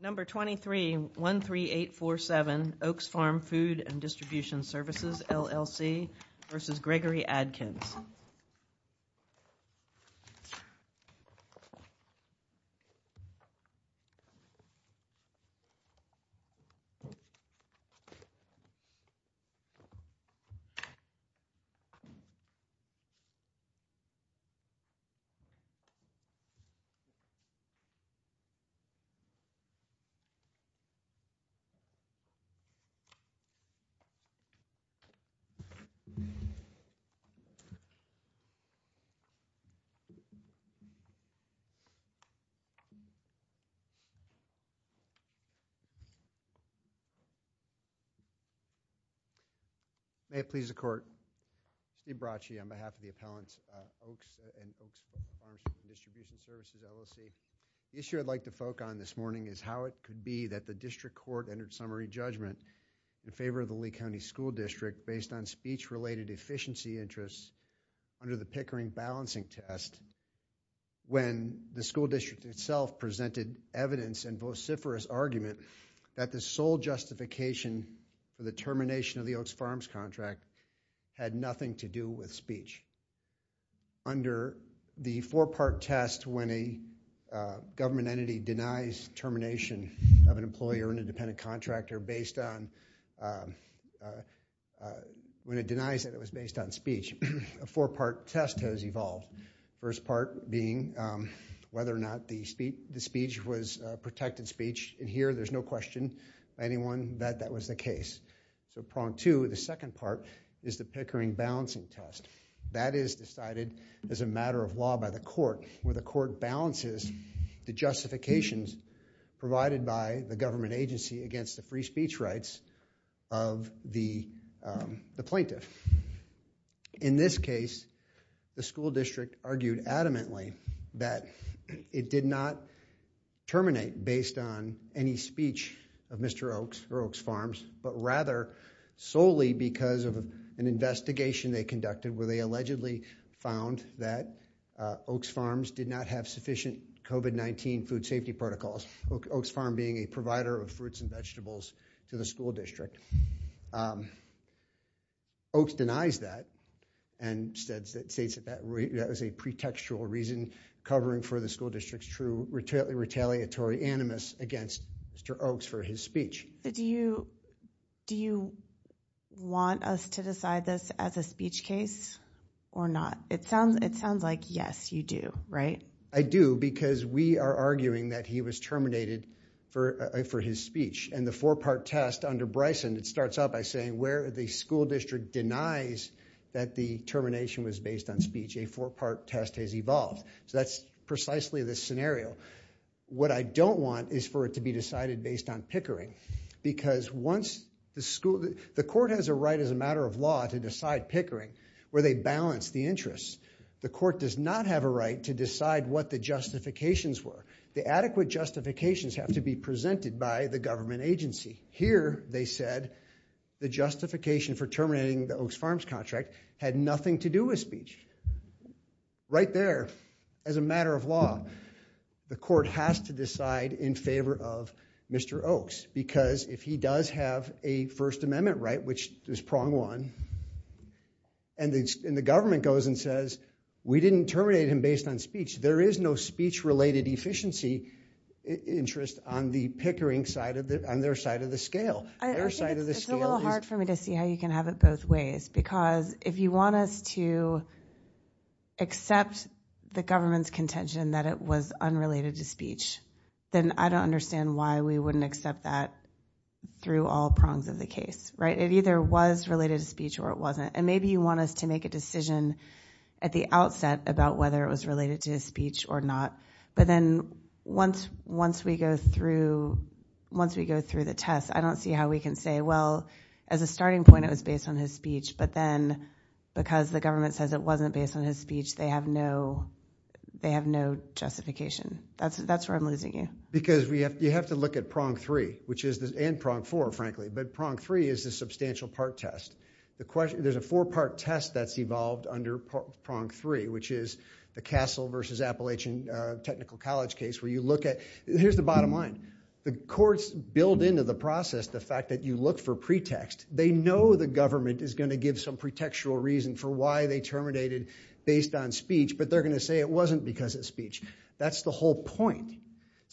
Number 2313847 Oaks Farm Food & Distribution Services, LLC versus Gregory Adkins. May it please the Court, Steve Bracci on behalf of the appellants, Oaks and Oaks Farms Food & Distribution Services, LLC. The issue I'd like to focus on this morning is how it could be that the district court entered summary judgment in favor of the Lee County School District based on speech-related efficiency interests under the Pickering balancing test when the school district itself presented evidence and vociferous argument that the sole justification for the termination of the Oaks Farms contract had nothing to do with speech. Under the four-part test when a government entity denies termination of an employee or an independent contractor when it denies that it was based on speech, a four-part test has evolved, the first part being whether or not the speech was protected speech. In here, there's no question. Anyone bet that was the case? The second part is the Pickering balancing test. That is decided as a matter of law by the court where the court balances the justifications provided by the government agency against the free speech rights of the plaintiff. In this case, the school district argued adamantly that it did not terminate based on any speech of Mr. Oaks or Oaks Farms, but rather solely because of an investigation they conducted where they allegedly found that Oaks Farms did not have sufficient COVID-19 food safety protocols, Oaks Farm being a provider of fruits and vegetables to the school district. Oaks denies that and states that that was a pretextual reason covering for the school district to be anonymous against Mr. Oaks for his speech. Do you want us to decide this as a speech case or not? It sounds like yes, you do, right? I do because we are arguing that he was terminated for his speech and the four-part test under Bryson, it starts out by saying where the school district denies that the termination was based on speech, a four-part test has evolved. That's precisely the scenario. What I don't want is for it to be decided based on pickering because the court has a right as a matter of law to decide pickering where they balance the interests. The court does not have a right to decide what the justifications were. The adequate justifications have to be presented by the government agency. Here, they said the justification for terminating the Oaks Farms contract had nothing to do with speech. Right there, as a matter of law, the court has to decide in favor of Mr. Oaks because if he does have a First Amendment right, which is prong one, and the government goes and says, we didn't terminate him based on speech, there is no speech-related efficiency interest on their side of the scale. I think it's a little hard for me to see how you can have it both ways because if you want us to accept the government's contention that it was unrelated to speech, then I don't understand why we wouldn't accept that through all prongs of the case. It either was related to speech or it wasn't. Maybe you want us to make a decision at the outset about whether it was related to speech or not, but then once we go through the test, I don't see how we can say, well, as a starting point it was based on his speech, but then because the government says it wasn't based on his speech, they have no justification. That's where I'm losing you. You have to look at prong three and prong four, frankly, but prong three is a substantial part test. There's a four-part test that's evolved under prong three, which is the Castle v. Appalachian Technical College case. Here's the bottom line. The courts build into the process the fact that you look for pretext. They know the government is going to give some pretextual reason for why they terminated based on speech, but they're going to say it wasn't because of speech. That's the whole point,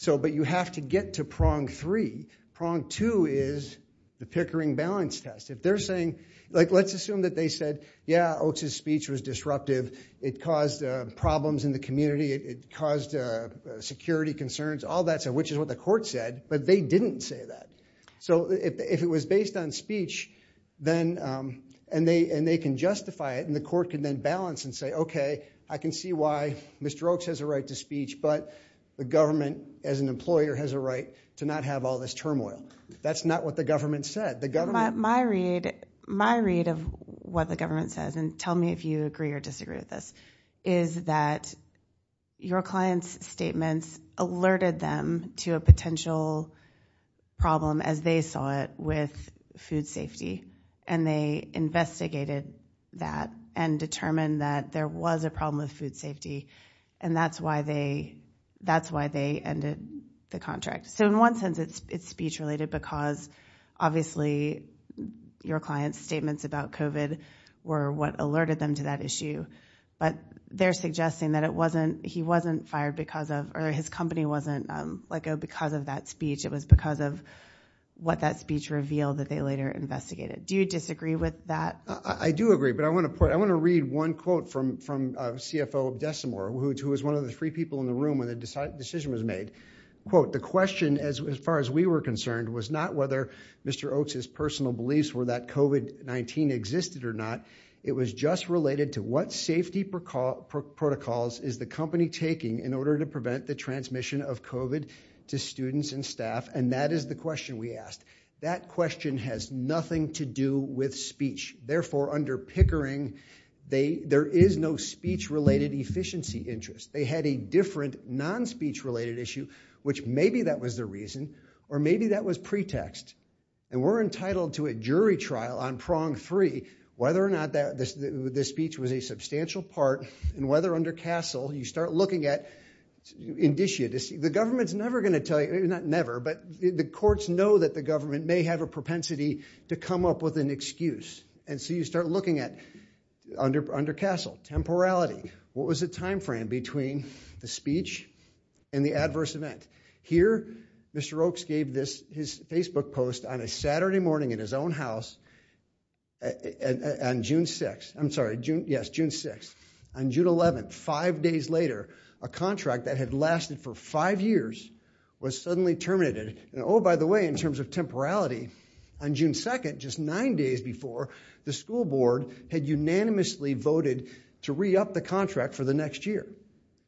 but you have to get to prong three. Prong two is the Pickering Balance Test. Let's assume that they said, yeah, Oakes' speech was disruptive. It caused problems in the community. It caused security concerns, all that stuff, which is what the court said, but they didn't say that. If it was based on speech, and they can justify it, and the court can then balance and say, okay, I can see why Mr. Oakes has a right to speech, but the government as an employer has a right to not have all this turmoil. That's not what the government said. My read of what the government says, and tell me if you agree or disagree with this, is that your client's statements alerted them to a potential problem, as they saw it, with food safety, and they investigated that and determined that there was a problem with food safety, and that's why they ended the contract. In one sense, it's speech-related because, obviously, your client's statements about COVID were what alerted them to that issue, but they're suggesting that he wasn't fired because of, or his company wasn't let go because of that speech. It was because of what that speech revealed that they later investigated. Do you disagree with that? I do agree, but I want to read one quote from CFO Decimor, who was one of the three people in the room when the decision was made. Quote, the question, as far as we were concerned, was not whether Mr. Oakes' personal beliefs were that COVID-19 existed or not. It was just related to what safety protocols is the company taking in order to prevent the transmission of COVID to students and staff, and that is the question we asked. That question has nothing to do with speech. Therefore, under Pickering, there is no speech-related efficiency interest. They had a different non-speech-related issue, which maybe that was the reason, or maybe that was pretext, and we're entitled to a jury trial on prong three, whether or not this speech was a substantial part, and whether under Castle, you start looking at indicia. The government's never going to tell you, not never, but the courts know that the government may have a propensity to come up with an excuse, and so you start looking at, under Castle, temporality. What was the timeframe between the speech and the adverse event? Here, Mr. Oakes gave his Facebook post on a Saturday morning in his own house on June 6th. I'm sorry, yes, June 6th. On June 11th, five days later, a contract that had lasted for five years was suddenly terminated. Oh, by the way, in terms of temporality, on June 2nd, just nine days before, the school board had unanimously voted to re-up the contract for the next year.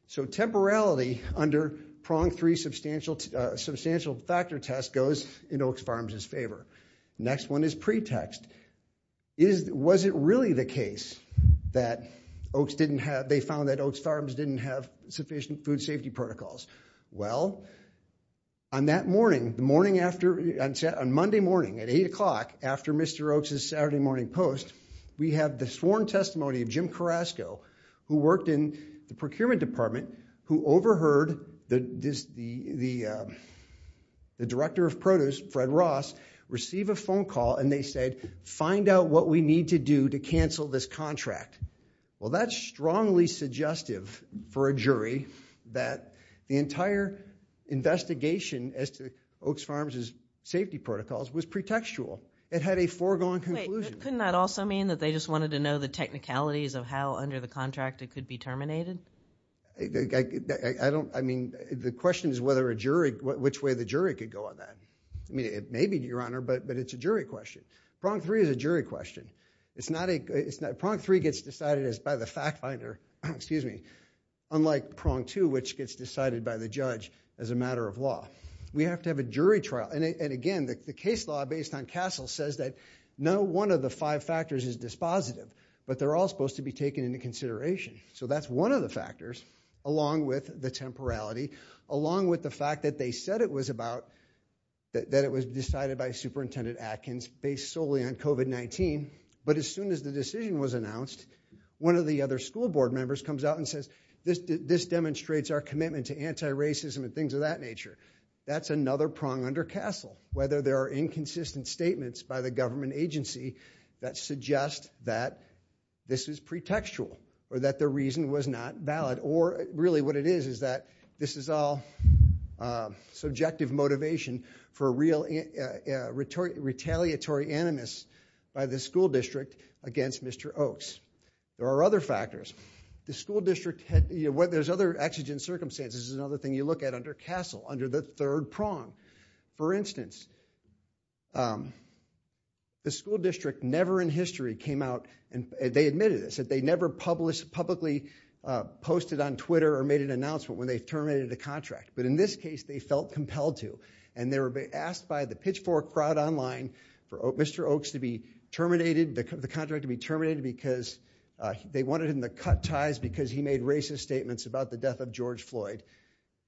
So temporality under prong three substantial factor test goes in Oakes Farms' favor. Next one is pretext. Was it really the case that they found that Oakes Farms didn't have sufficient food safety protocols? Well, on Monday morning at 8 o'clock, after Mr. Oakes' Saturday morning post, we have the sworn testimony of Jim Carrasco, who worked in the procurement department, who overheard the director of produce, Fred Ross, receive a phone call and they said, find out what we need to do to cancel this contract. Well, that's strongly suggestive for a jury that the entire investigation as to Oakes Farms' safety protocols was pretextual. It had a foregone conclusion. Couldn't that also mean that they just wanted to know the technicalities of how under the contract it could be terminated? I mean, the question is which way the jury could go on that. I mean, it may be, Your Honor, but it's a jury question. Prong three is a jury question. Prong three gets decided by the fact finder, unlike prong two, which gets decided by the judge as a matter of law. We have to have a jury trial. And again, the case law based on Castle says that no one of the five factors is dispositive, but they're all supposed to be taken into consideration. So that's one of the factors, along with the temporality, along with the fact that they said it was about, that it was decided by Superintendent Atkins based solely on COVID-19. But as soon as the decision was announced, one of the other school board members comes out and says, this demonstrates our commitment to anti-racism and things of that nature. That's another prong under Castle, whether there are inconsistent statements by the government agency that suggest that this is pretextual, or that the reason was not valid, or really what it is is that this is all subjective motivation for a real retaliatory animus by the school district against Mr. Oaks. There are other factors. The school district, there's other exigent circumstances. This is another thing you look at under Castle, under the third prong. For instance, the school district never in history came out, and they admitted this, that they never publicly posted on Twitter or made an announcement when they terminated the contract. But in this case, they felt compelled to. And they were asked by the pitchfork crowd online for Mr. Oaks to be terminated, the contract to be terminated, because they wanted him to cut ties because he made racist statements about the death of George Floyd.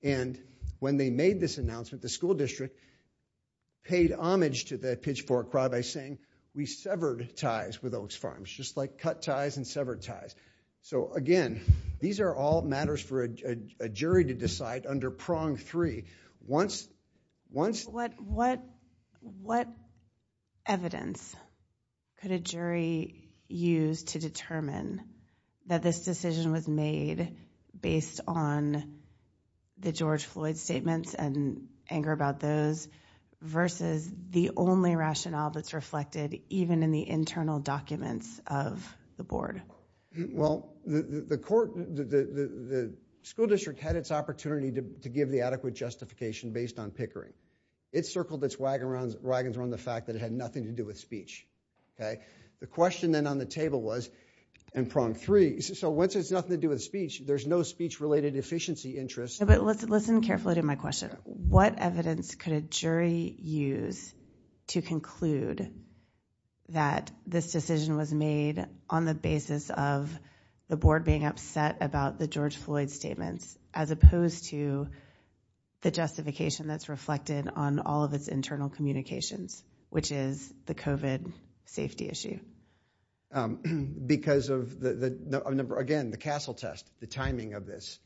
And when they made this announcement, the school district paid homage to the pitchfork crowd by saying, we severed ties with Oaks Farms, just like cut ties and severed ties. So again, these are all matters for a jury to decide under prong three. What evidence could a jury use to determine that this decision was made based on the George Floyd statements and anger about those versus the only rationale that's reflected even in the internal documents of the board? Well, the school district had its opportunity to give the adequate justification based on pickering. It circled its wagons around the fact that it had nothing to do with speech. The question then on the table was, in prong three, so once it has nothing to do with speech, there's no speech-related deficiency interest. But listen carefully to my question. What evidence could a jury use to conclude that this decision was made on the basis of the board being upset about the George Floyd statements as opposed to the justification that's reflected on all of its internal communications, which is the COVID safety issue? Because of, again, the CASEL test, the timing of this.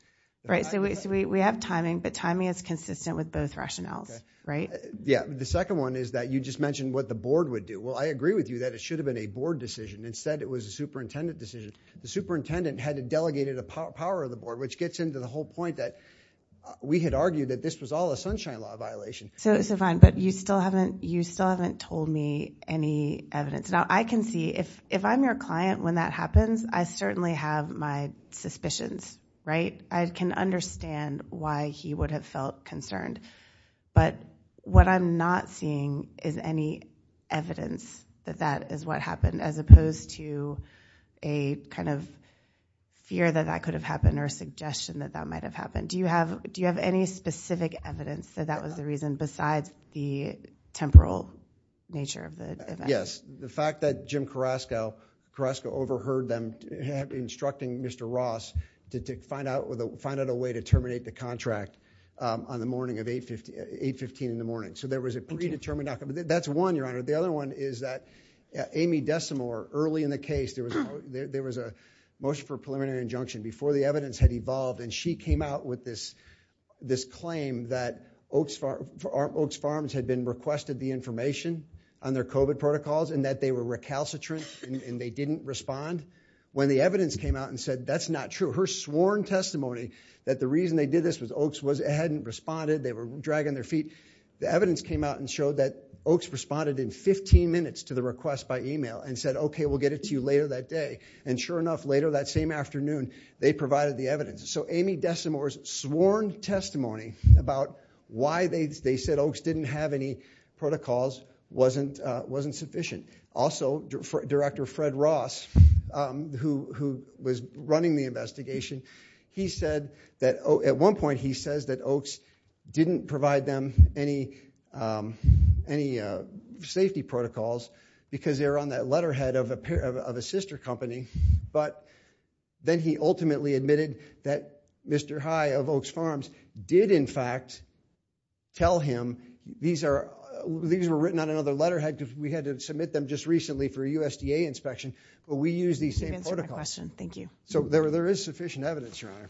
Right, so we have timing, but timing is consistent with both rationales, right? Yeah, the second one is that you just mentioned what the board would do. Well, I agree with you that it should have been a board decision. Instead, it was a superintendent decision. The superintendent had delegated the power of the board, which gets into the whole point that we had argued that this was all a Sunshine Law violation. So fine, but you still haven't told me any evidence. Now, I can see if I'm your client when that happens, I certainly have my suspicions, right? I can understand why he would have felt concerned. But what I'm not seeing is any evidence that that is what happened as opposed to a kind of fear that that could have happened or a suggestion that that might have happened. Do you have any specific evidence that that was the reason besides the temporal nature of the event? Yes, the fact that Jim Carrasco overheard them instructing Mr. Ross to find out a way to terminate the contract on the morning of 8.15 in the morning. So there was a predetermined outcome. That's one, Your Honor. The other one is that Amy Desimore, early in the case, there was a motion for preliminary injunction before the evidence had evolved. And she came out with this claim that Oaks Farms had been requested the information on their COVID protocols and that they were recalcitrant and they didn't respond. When the evidence came out and said that's not true, her sworn testimony that the reason they did this was Oaks hadn't responded. They were dragging their feet. The evidence came out and showed that Oaks responded in 15 minutes to the request by email and said, okay, we'll get it to you later that day. And sure enough, later that same afternoon, they provided the evidence. So Amy Desimore's sworn testimony about why they said Oaks didn't have any protocols wasn't sufficient. Also, Director Fred Ross, who was running the investigation, he said that at one point he says that Oaks didn't provide them any safety protocols because they were on that letterhead of a sister company. But then he ultimately admitted that Mr. High of Oaks Farms did, in fact, tell him These were written on another letterhead. We had to submit them just recently for a USDA inspection. But we use these same protocols. So there is sufficient evidence, Your Honor.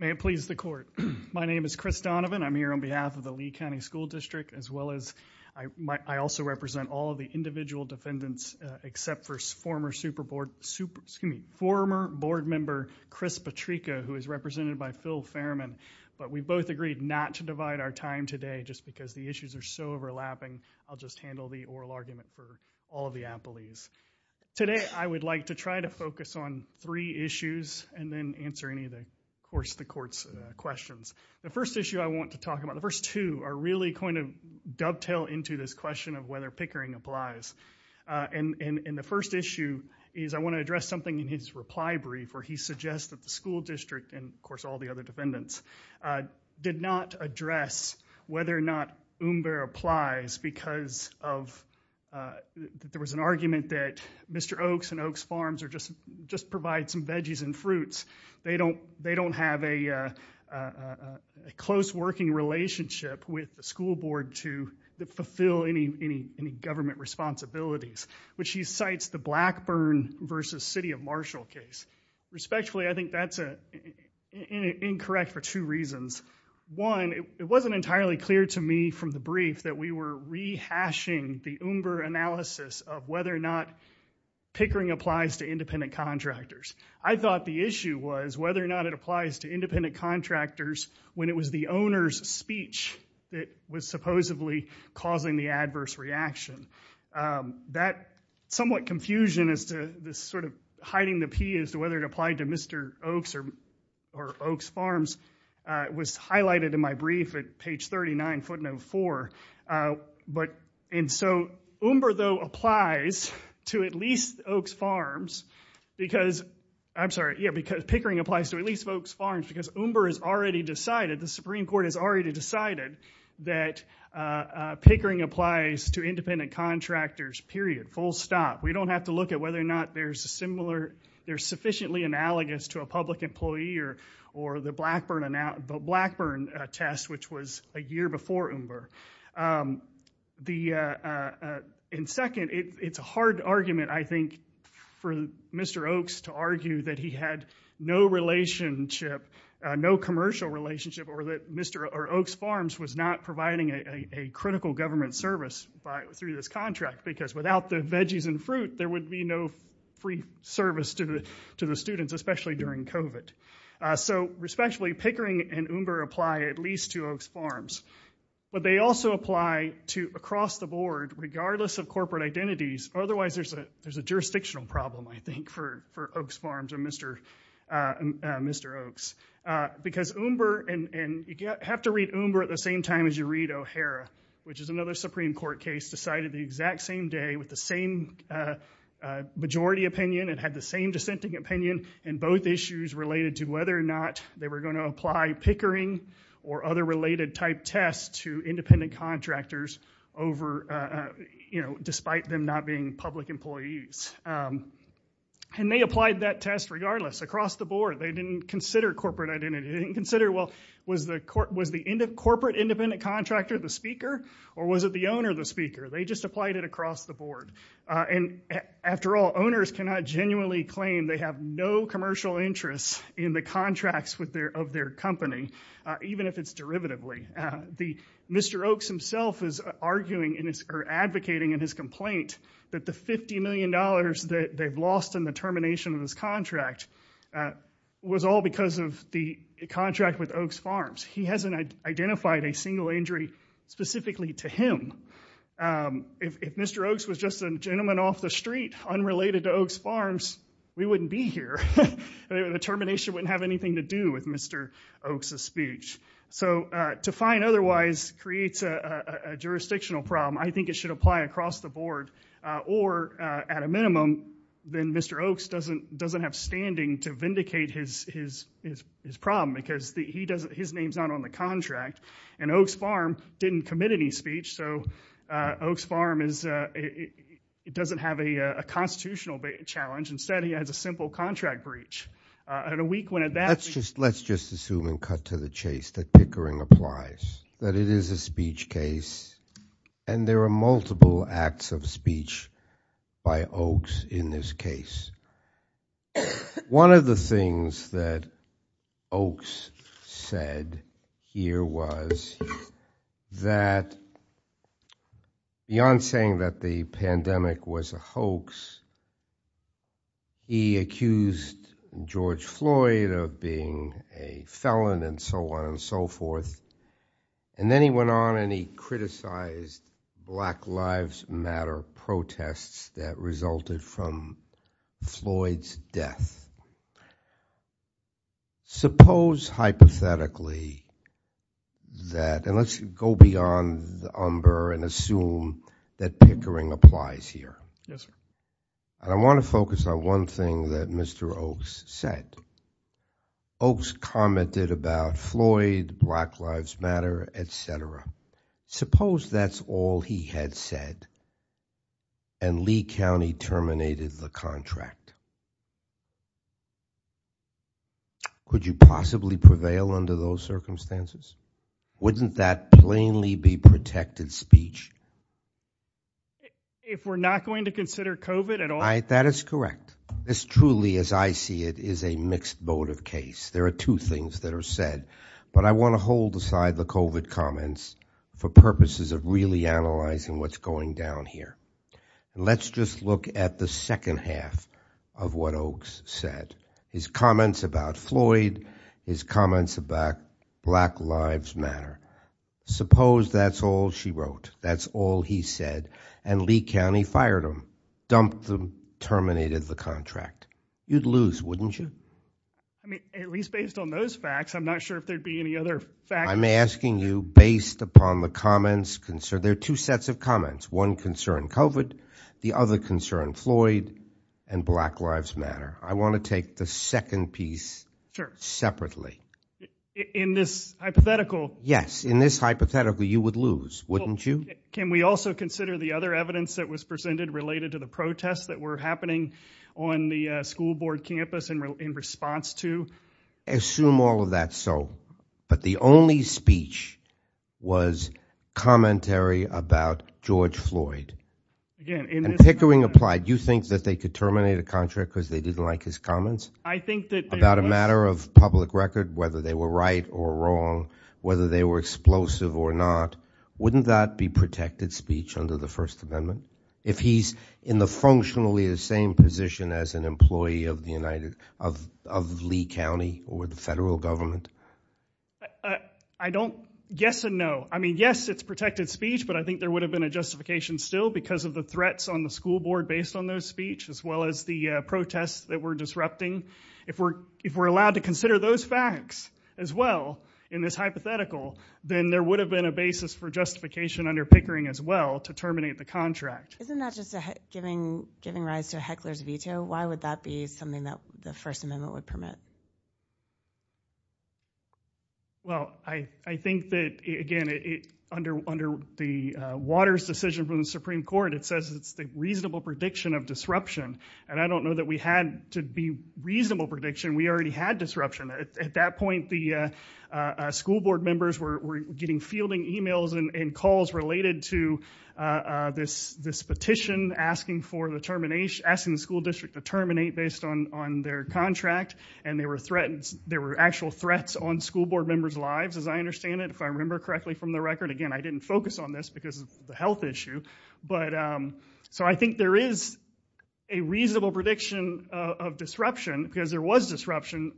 May it please the court. My name is Chris Donovan. I'm here on behalf of the Lee County School District, as well as I also represent all of the individual defendants except for former board member Chris Petricca, who is represented by Phil Fairman. But we both agreed not to divide our time today just because the issues are so overlapping. I'll just handle the oral argument for all of the appellees. Today, I would like to try to focus on three issues and then answer any of the courts' questions. The first issue I want to talk about, the first two, are really going to dovetail into this question of whether Pickering applies. And the first issue is I want to address something in his reply brief where he suggests that the school district and, of course, all the other defendants did not address whether or not Umber applies because there was an argument that Mr. Oaks and Oaks Farms just provide some veggies and fruits. They don't have a close working relationship with the school board to fulfill any government responsibilities, which he cites the Blackburn versus City of Marshall case. Respectfully, I think that's incorrect for two reasons. One, it wasn't entirely clear to me from the brief that we were rehashing the Umber analysis of whether or not Pickering applies to independent contractors. I thought the issue was whether or not it applies to independent contractors when it was the owner's speech that was supposedly causing the adverse reaction. That somewhat confusion as to this sort of hiding the P as to whether it applied to Mr. Oaks or Oaks Farms was highlighted in my brief at page 39, footnote 4. And so Umber, though, applies to at least Oaks Farms because Pickering applies to at least Oaks Farms because Umber has already decided, the Supreme Court has already decided, that Pickering applies to independent contractors, period, full stop. We don't have to look at whether or not they're sufficiently analogous to a public employee or the Blackburn test, which was a year before Umber. And second, it's a hard argument, I think, for Mr. Oaks to argue that he had no relationship, no commercial relationship, or that Mr. Oaks Farms was not providing a critical government service through this contract because without the veggies and fruit, there would be no free service to the students, especially during COVID. So especially Pickering and Umber apply at least to Oaks Farms. But they also apply to across the board, regardless of corporate identities, otherwise there's a jurisdictional problem, I think, for Oaks Farms and Mr. Oaks. Because Umber, and you have to read Umber at the same time as you read O'Hara, which is another Supreme Court case, decided the exact same day with the same majority opinion and had the same dissenting opinion in both issues related to whether or not they were going to apply Pickering or other related type tests to independent contractors despite them not being public employees. And they applied that test regardless, across the board. They didn't consider corporate identity. They didn't consider, well, was the corporate independent contractor the speaker or was it the owner the speaker? They just applied it across the board. And after all, owners cannot genuinely claim they have no commercial interests in the contracts of their company, even if it's derivatively. Mr. Oaks himself is arguing or advocating in his complaint that the $50 million that they've lost in the termination of this contract was all because of the contract with Oaks Farms. He hasn't identified a single injury specifically to him. If Mr. Oaks was just a gentleman off the street unrelated to Oaks Farms, we wouldn't be here. The termination wouldn't have anything to do with Mr. Oaks' speech. So to find otherwise creates a jurisdictional problem. I think it should apply across the board. Or at a minimum, then Mr. Oaks doesn't have standing to vindicate his problem because his name's not on the contract. And Oaks Farm didn't commit any speech, so Oaks Farm doesn't have a constitutional challenge instead he has a simple contract breach. Let's just assume and cut to the chase that Pickering applies, that it is a speech case, and there are multiple acts of speech by Oaks in this case. One of the things that Oaks said here was that beyond saying that the pandemic was a hoax, he accused George Floyd of being a felon and so on and so forth. And then he went on and he criticized Black Lives Matter protests that resulted from Floyd's death. Suppose hypothetically that, and let's go beyond the umber and assume that Pickering applies here. Yes, sir. I want to focus on one thing that Mr. Oaks said. Oaks commented about Floyd, Black Lives Matter, et cetera. Suppose that's all he had said, and Lee County terminated the contract. Could you possibly prevail under those circumstances? Wouldn't that plainly be protected speech? If we're not going to consider COVID at all? That is correct. This truly, as I see it, is a mixed boat of case. There are two things that are said, but I want to hold aside the COVID comments for purposes of really analyzing what's going down here. Let's just look at the second half of what Oaks said. His comments about Floyd, his comments about Black Lives Matter. Suppose that's all she wrote. That's all he said. And Lee County fired him, dumped him, terminated the contract. You'd lose, wouldn't you? I mean, at least based on those facts, I'm not sure if there'd be any other facts. I'm asking you based upon the comments. There are two sets of comments. One concern COVID, the other concern Floyd and Black Lives Matter. I want to take the second piece separately. In this hypothetical. Yes, in this hypothetical, you would lose, wouldn't you? Can we also consider the other evidence that was presented related to the protests that were happening on the school board campus in response to? Assume all of that. So, but the only speech was commentary about George Floyd. Pickering applied. You think that they could terminate a contract because they didn't like his comments about a matter of public record, whether they were right or wrong, whether they were explosive or not. Wouldn't that be protected speech under the first amendment? If he's in the functionally, the same position as an employee of the United of Lee County or the federal government. I don't guess a no. I mean, yes, it's protected speech, but I think there would have been a justification still because of the threats on the school board based on those speech, as well as the protests that were disrupting. If we're, if we're allowed to consider those facts as well in this hypothetical, then there would have been a basis for justification under Pickering as well to terminate the contract. Isn't that just giving, giving rise to hecklers veto. Why would that be something that the first amendment would permit? Well, I, I think that again, it under, under the waters decision from the Supreme court, it says it's the reasonable prediction of disruption. And I don't know that we had to be reasonable prediction. We already had disruption at that point. The school board members were getting fielding emails and calls related to this, this petition asking for the termination, asking the school district to terminate based on, on their contract and they were threatened. There were actual threats on school board members lives, as I understand it. If I remember correctly from the record again, I didn't focus on this because of the health issue. But so I think there is a reasonable prediction of disruption because there was disruption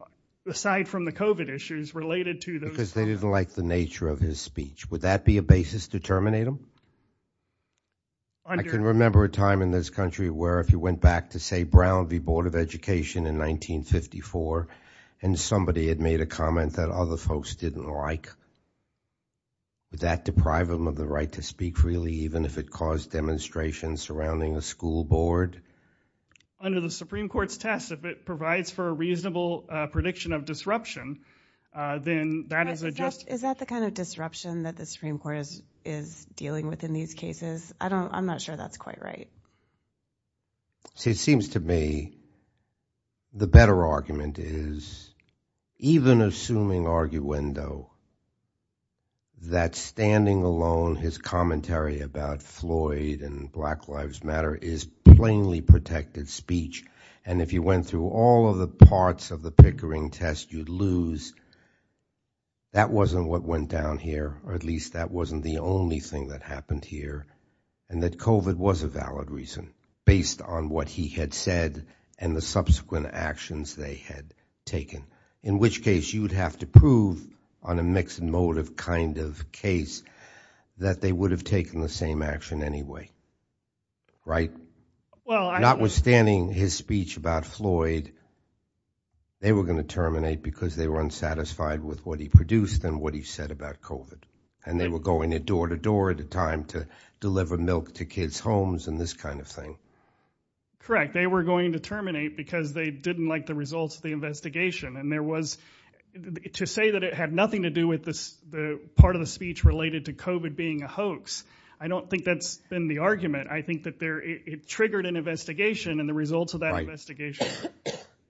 aside from the COVID issues related to those. They didn't like the nature of his speech. Would that be a basis to terminate them? I can remember a time in this country where if you went back to say Brown v. Board of Education in 1954, and somebody had made a comment that other folks didn't like. Would that deprive them of the right to speak freely, even if it caused demonstrations surrounding a school board? Under the Supreme court's test, if it provides for a reasonable prediction of disruption, then that is a just, is that the kind of disruption that the Supreme court is, is dealing with in these cases? I don't, I'm not sure that's quite right. So it seems to me the better argument is even assuming arguendo, that standing alone, his commentary about Floyd and black lives matter is plainly protected speech. And if you went through all of the parts of the Pickering test, you'd lose. That wasn't what went down here, or at least that wasn't the only thing that happened here and that COVID was a valid reason based on what he had said and the subsequent actions they had taken, in which case you would have to prove on a mixed motive kind of case that they would have taken the same action anyway, right? Well, notwithstanding his speech about Floyd, they were going to terminate because they were unsatisfied with what he produced and what he said about COVID. And they were going to door to door at a time to deliver milk to kids' homes and this kind of thing. Correct. They were going to terminate because they didn't like the results of the investigation. And there was to say that it had nothing to do with this, the part of the speech related to COVID being a hoax. I don't think that's been the argument. I think that there it triggered an investigation and the results of that investigation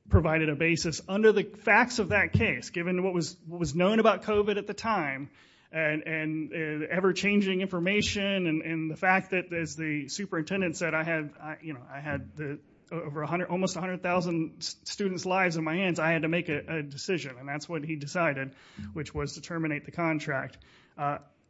provided a basis under the facts of that case, given what was known about COVID at the time and ever changing information and the fact that there's the superintendent said, I had, you know, I had the over a hundred, almost a hundred thousand students lives in my hands. I had to make a decision and that's what he decided, which was to terminate the contract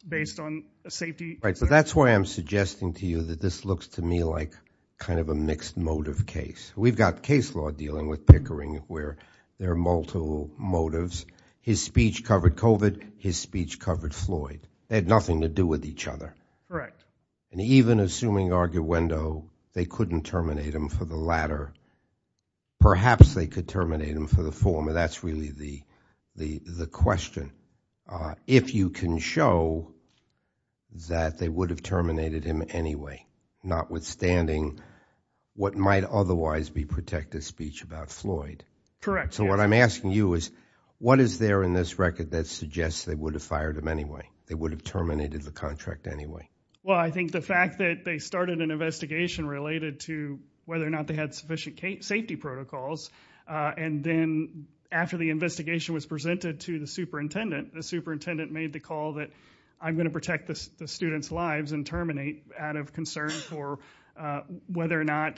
based on a safety. Right. So that's why I'm suggesting to you that this looks to me like kind of a mixed motive case. We've got case law dealing with Pickering where there are multiple motives. His speech covered COVID, his speech covered Floyd. They had nothing to do with each other. Correct. And even assuming arguendo, they couldn't terminate him for the latter. Perhaps they could terminate him for the former. That's really the, the, the question. If you can show that they would have terminated him anyway, notwithstanding what might otherwise be protected speech about Floyd. So what I'm asking you is what is there in this record that suggests they would have fired him anyway, they would have terminated the contract anyway. Well, I think the fact that they started an investigation related to whether or not they had sufficient safety protocols. And then after the investigation was presented to the superintendent, the superintendent made the call that I'm going to protect the students lives and terminate out of concern for whether or not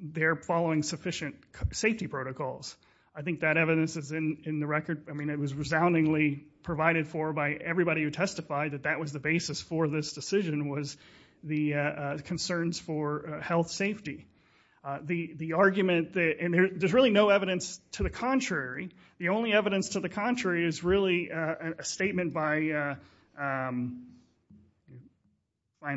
they're following sufficient safety protocols. I think that evidence is in, in the record. I mean, it was resoundingly provided for by everybody who testified that that was the basis for this decision was the concerns for health safety. The, the argument that, and there's really no evidence to the contrary. The only evidence to the contrary is really a statement by Brian,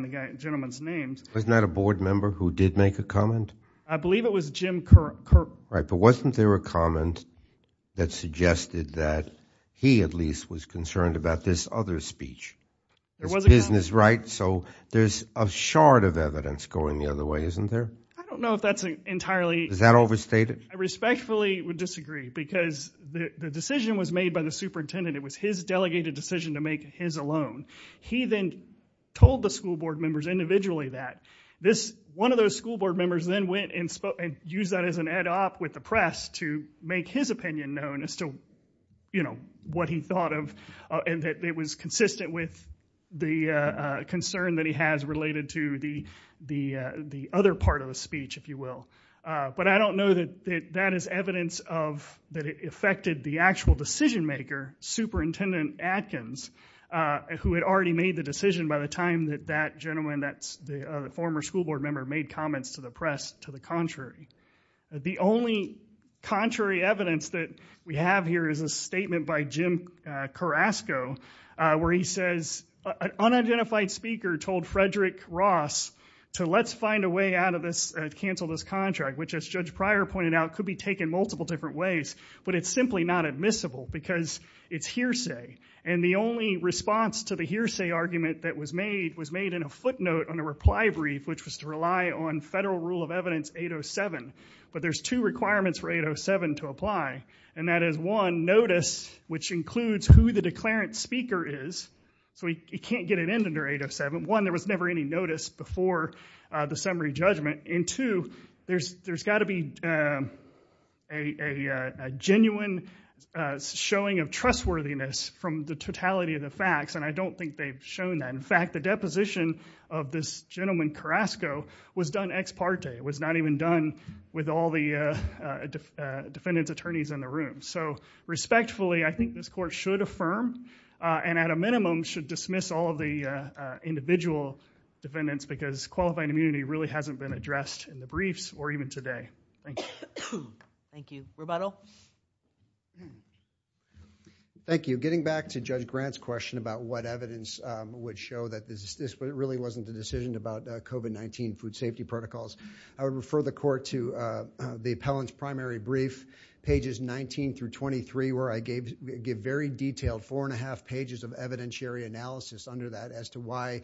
the gentleman's names. Wasn't that a board member who did make a comment? I believe it was Jim Kirk. Right. But wasn't there a comment that suggested that he at least was concerned about this other speech. There was a business, right? So there's a shard of evidence going the other way, isn't there? I don't know if that's entirely. Is that overstated? I respectfully would disagree because the decision was made by the superintendent. It was his delegated decision to make his alone. He then told the school board members individually that this, one of those school board members then went and spoke and use that as an ed op with the press to make his opinion known as to, you know, what he thought of and that it was consistent with the concern that he has related to the, the, the other part of the speech, if you will. But I don't know that that is evidence of that. It affected the actual decision maker, superintendent Atkins, who had already made the decision by the time that that gentleman, that's the former school board member made comments to the press to the contrary. The only contrary evidence that we have here is a statement by Jim Carrasco where he says an unidentified speaker told Frederick Ross to let's find a way out of this, cancel this contract, which as judge prior pointed out, could be taken multiple different ways, but it's simply not admissible because it's hearsay. And the only response to the hearsay argument that was made was made in a footnote on a reply brief, which was to rely on federal rule of evidence 807. But there's two requirements for 807 to apply and that is one notice, which includes who the declarant speaker is. So he can't get an end under 807. One, there was never any notice before the summary judgment. And two, there's, there's gotta be a, a, a, a genuine, uh, showing of trustworthiness from the totality of the facts. And I don't think they've shown that. In fact, the deposition of this gentleman Carrasco was done ex parte. It was not even done with all the, uh, uh, defendants attorneys in the room. So respectfully, I think this court should affirm, uh, and at a minimum should dismiss all of the, uh, uh, individual defendants because qualifying immunity really hasn't been addressed in the briefs or even today. Thank you. Thank you. Thank you. Getting back to judge Grant's question about what evidence, um, would show that this is this, but it really wasn't the decision about COVID-19 food safety protocols. I would refer the court to, uh, uh, the appellant's primary brief, pages 19 through 23, where I gave, give very detailed four and a half pages of evidentiary analysis under that as to why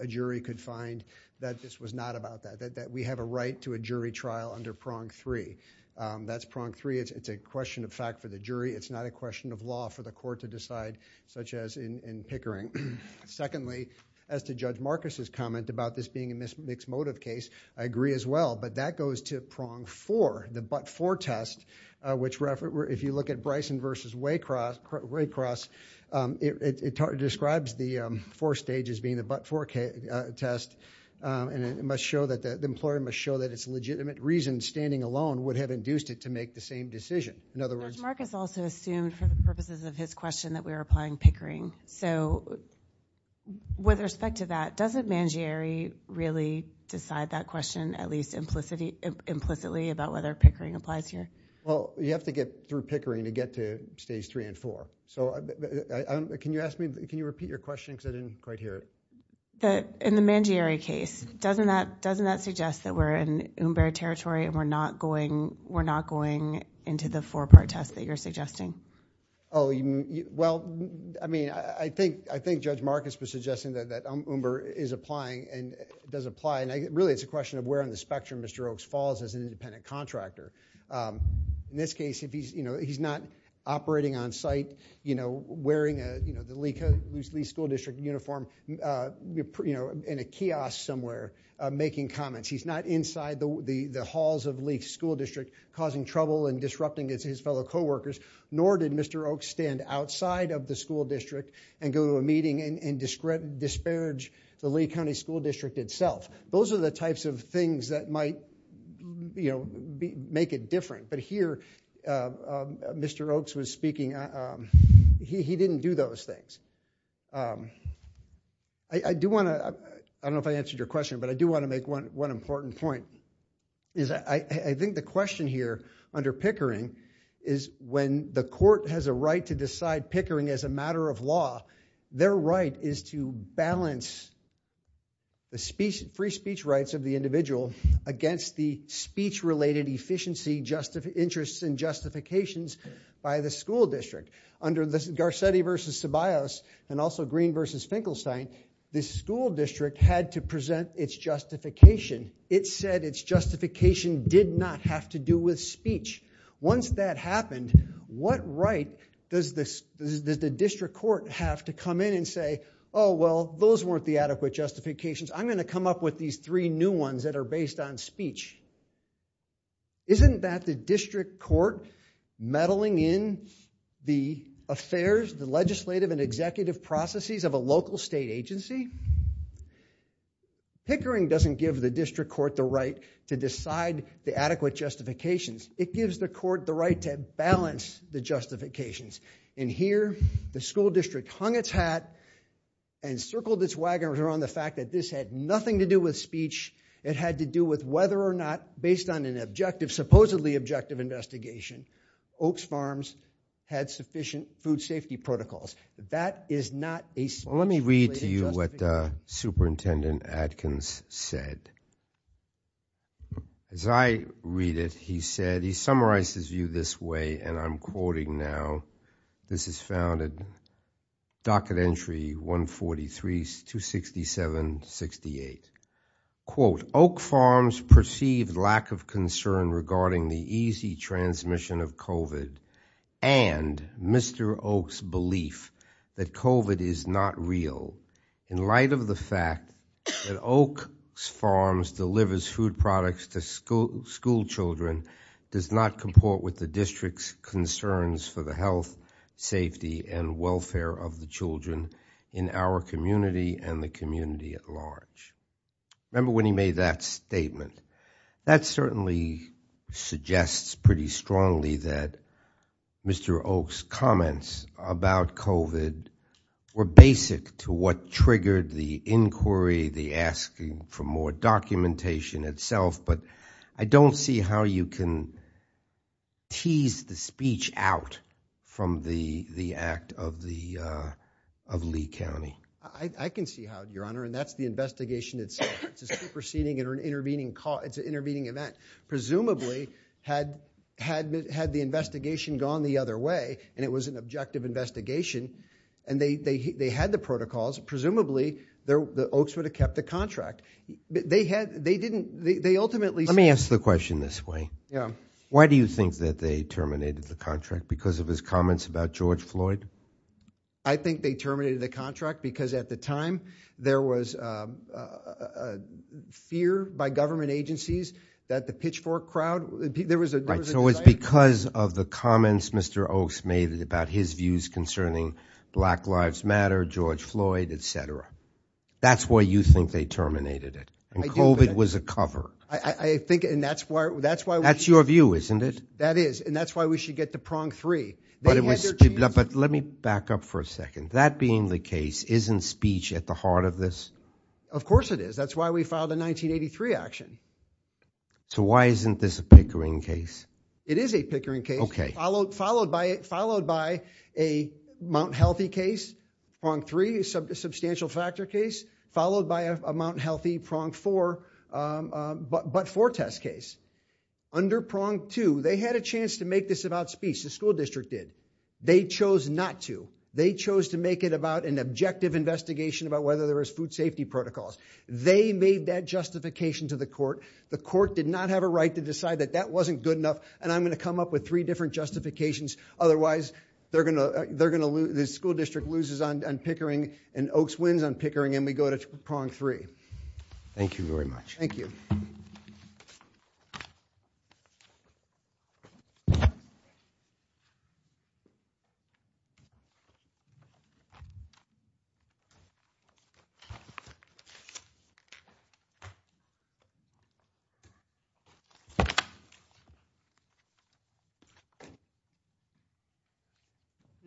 a jury could find that this was not about that, that we have a right to a jury trial under prong three, um, that's prong three. It's, it's a question of fact for the jury. It's not a question of law for the court to decide such as in, in Pickering. Secondly, as to judge Marcus's comment about this being a mixed motive case, I agree as well, but that goes to prong for the, but for test, uh, which refer, if you look at Bryson versus way cross Ray cross, um, it, it, it describes the, um, But for test, um, and it, it must show that the, the employer must show that it's legitimate reason, standing alone would have induced it to make the same decision. In other words, There's Marcus also assumed for the purposes of his question that we were applying Pickering. So with respect to that, doesn't Mangieri really decide that question at least implicitly implicitly about whether Pickering applies here? Oh, you have to get through Pickering to get to stage three and four. So I, can you ask me, can you repeat your question? Cause I didn't quite hear it. In the Mangieri case, doesn't that, doesn't that suggest that we're in Umber territory and we're not going, we're not going into the four part test that you're suggesting. Oh, well, I mean, I think, I think judge Marcus was suggesting that that Umber is applying and does apply. And I really, it's a question of where on the spectrum, Mr. Oakes falls as an independent contractor. Um, in this case, if he's, you know, he's not operating on site, you know, wearing a, you know, the Lee school district uniform, uh, you know, in a kiosk somewhere, uh, making comments. He's not inside the halls of Lee school district causing trouble and disrupting his fellow coworkers, nor did Mr. Oakes stand outside of the school district and go to a meeting and disparage the Lee County school district itself. Those are the types of things that might, you know, make it different. But here, uh, uh, Mr. Oakes was speaking. Um, he, he didn't do those things. Um, I do want to, I don't know if I answered your question, but I do want to make one, one important point is I, I think the question here under Pickering is when the court has a right to decide Pickering as a matter of law, their right is to balance the speech, free speech rights of the individual against the speech related efficiency justice interests and justifications by the school district under this Garcetti versus Tobias and also green versus Finkelstein. This school district had to present its justification. It said its justification did not have to do with speech. Once that happened, what right does this, does the district court have to come in and say, Oh, well, those weren't the adequate justifications. I'm going to come up with these three new ones that are based on speech. Isn't that the district court meddling in the affairs, the legislative and executive processes of a local state agency? Pickering doesn't give the district court the right to decide the adequate justifications. It gives the court the right to balance the justifications. And here the school district hung its hat and circled this wagon around the fact that this had nothing to do with speech. It had to do with whether or not based on an objective, supposedly objective investigation, Oaks farms had sufficient food safety protocols. That is not a small. Let me read to you what a superintendent Adkins said. As I read it, he said, he summarizes you this way. And I'm quoting now, this is founded docket entry, one 43 to 67 68 quote Oak farms perceived lack of concern regarding the easy transmission of COVID and Mr. Oaks belief that COVID is not real in light of the fact that Oak's farms delivers food products to school. School children does not comport with the district's concerns for the health safety and welfare of the children in our community and the community at large. Remember when he made that statement, that certainly suggests pretty strongly that Mr. Oaks comments about COVID were basic to what triggered the inquiry, the asking for more documentation itself, but I don't see how you can tease the speech out from the, the act of the, uh, of Lee County. I can see how your honor. And that's the investigation itself. It's a superseding or an intervening call. It's an intervening event. Presumably had, had, had the investigation gone the other way and it was an objective investigation and they, they, they had the protocols. Presumably they're the Oaks would have kept the contract. They had, they didn't, they ultimately, let me ask the question this way. Yeah. Why do you think that they terminated the contract because of his comments about George Floyd? I think they terminated the contract because at the time there was, um, uh, uh, fear by government agencies that the pitchfork crowd, there was a, it was because of the comments Mr. Oaks made about his views concerning black lives matter, George Floyd, et cetera. That's why you think they terminated it and COVID was a cover. I think, and that's why, that's why that's your view, isn't it? That is. And that's why we should get to prong three. But let me back up for a second. That being the case isn't speech at the heart of this. Of course it is. That's why we filed a 1983 action. So why isn't this a Pickering case? It is a Pickering case followed, followed by it, followed by a Mount healthy case on three sub substantial factor case followed by a Mount healthy prong for, um, um, but, but Fortas case under prong two, they had a chance to make this about speech. The school district did. They chose not to. They chose to make it about an objective investigation about whether there was food safety protocols. They made that justification to the court. The court did not have a right to decide that that wasn't good enough. And I'm going to come up with three different justifications. Otherwise they're going to, they're going to lose. The school district loses on Pickering and Oaks wins on Pickering. And we go to prong three. Thank you very much. Thank you.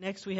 Thank you.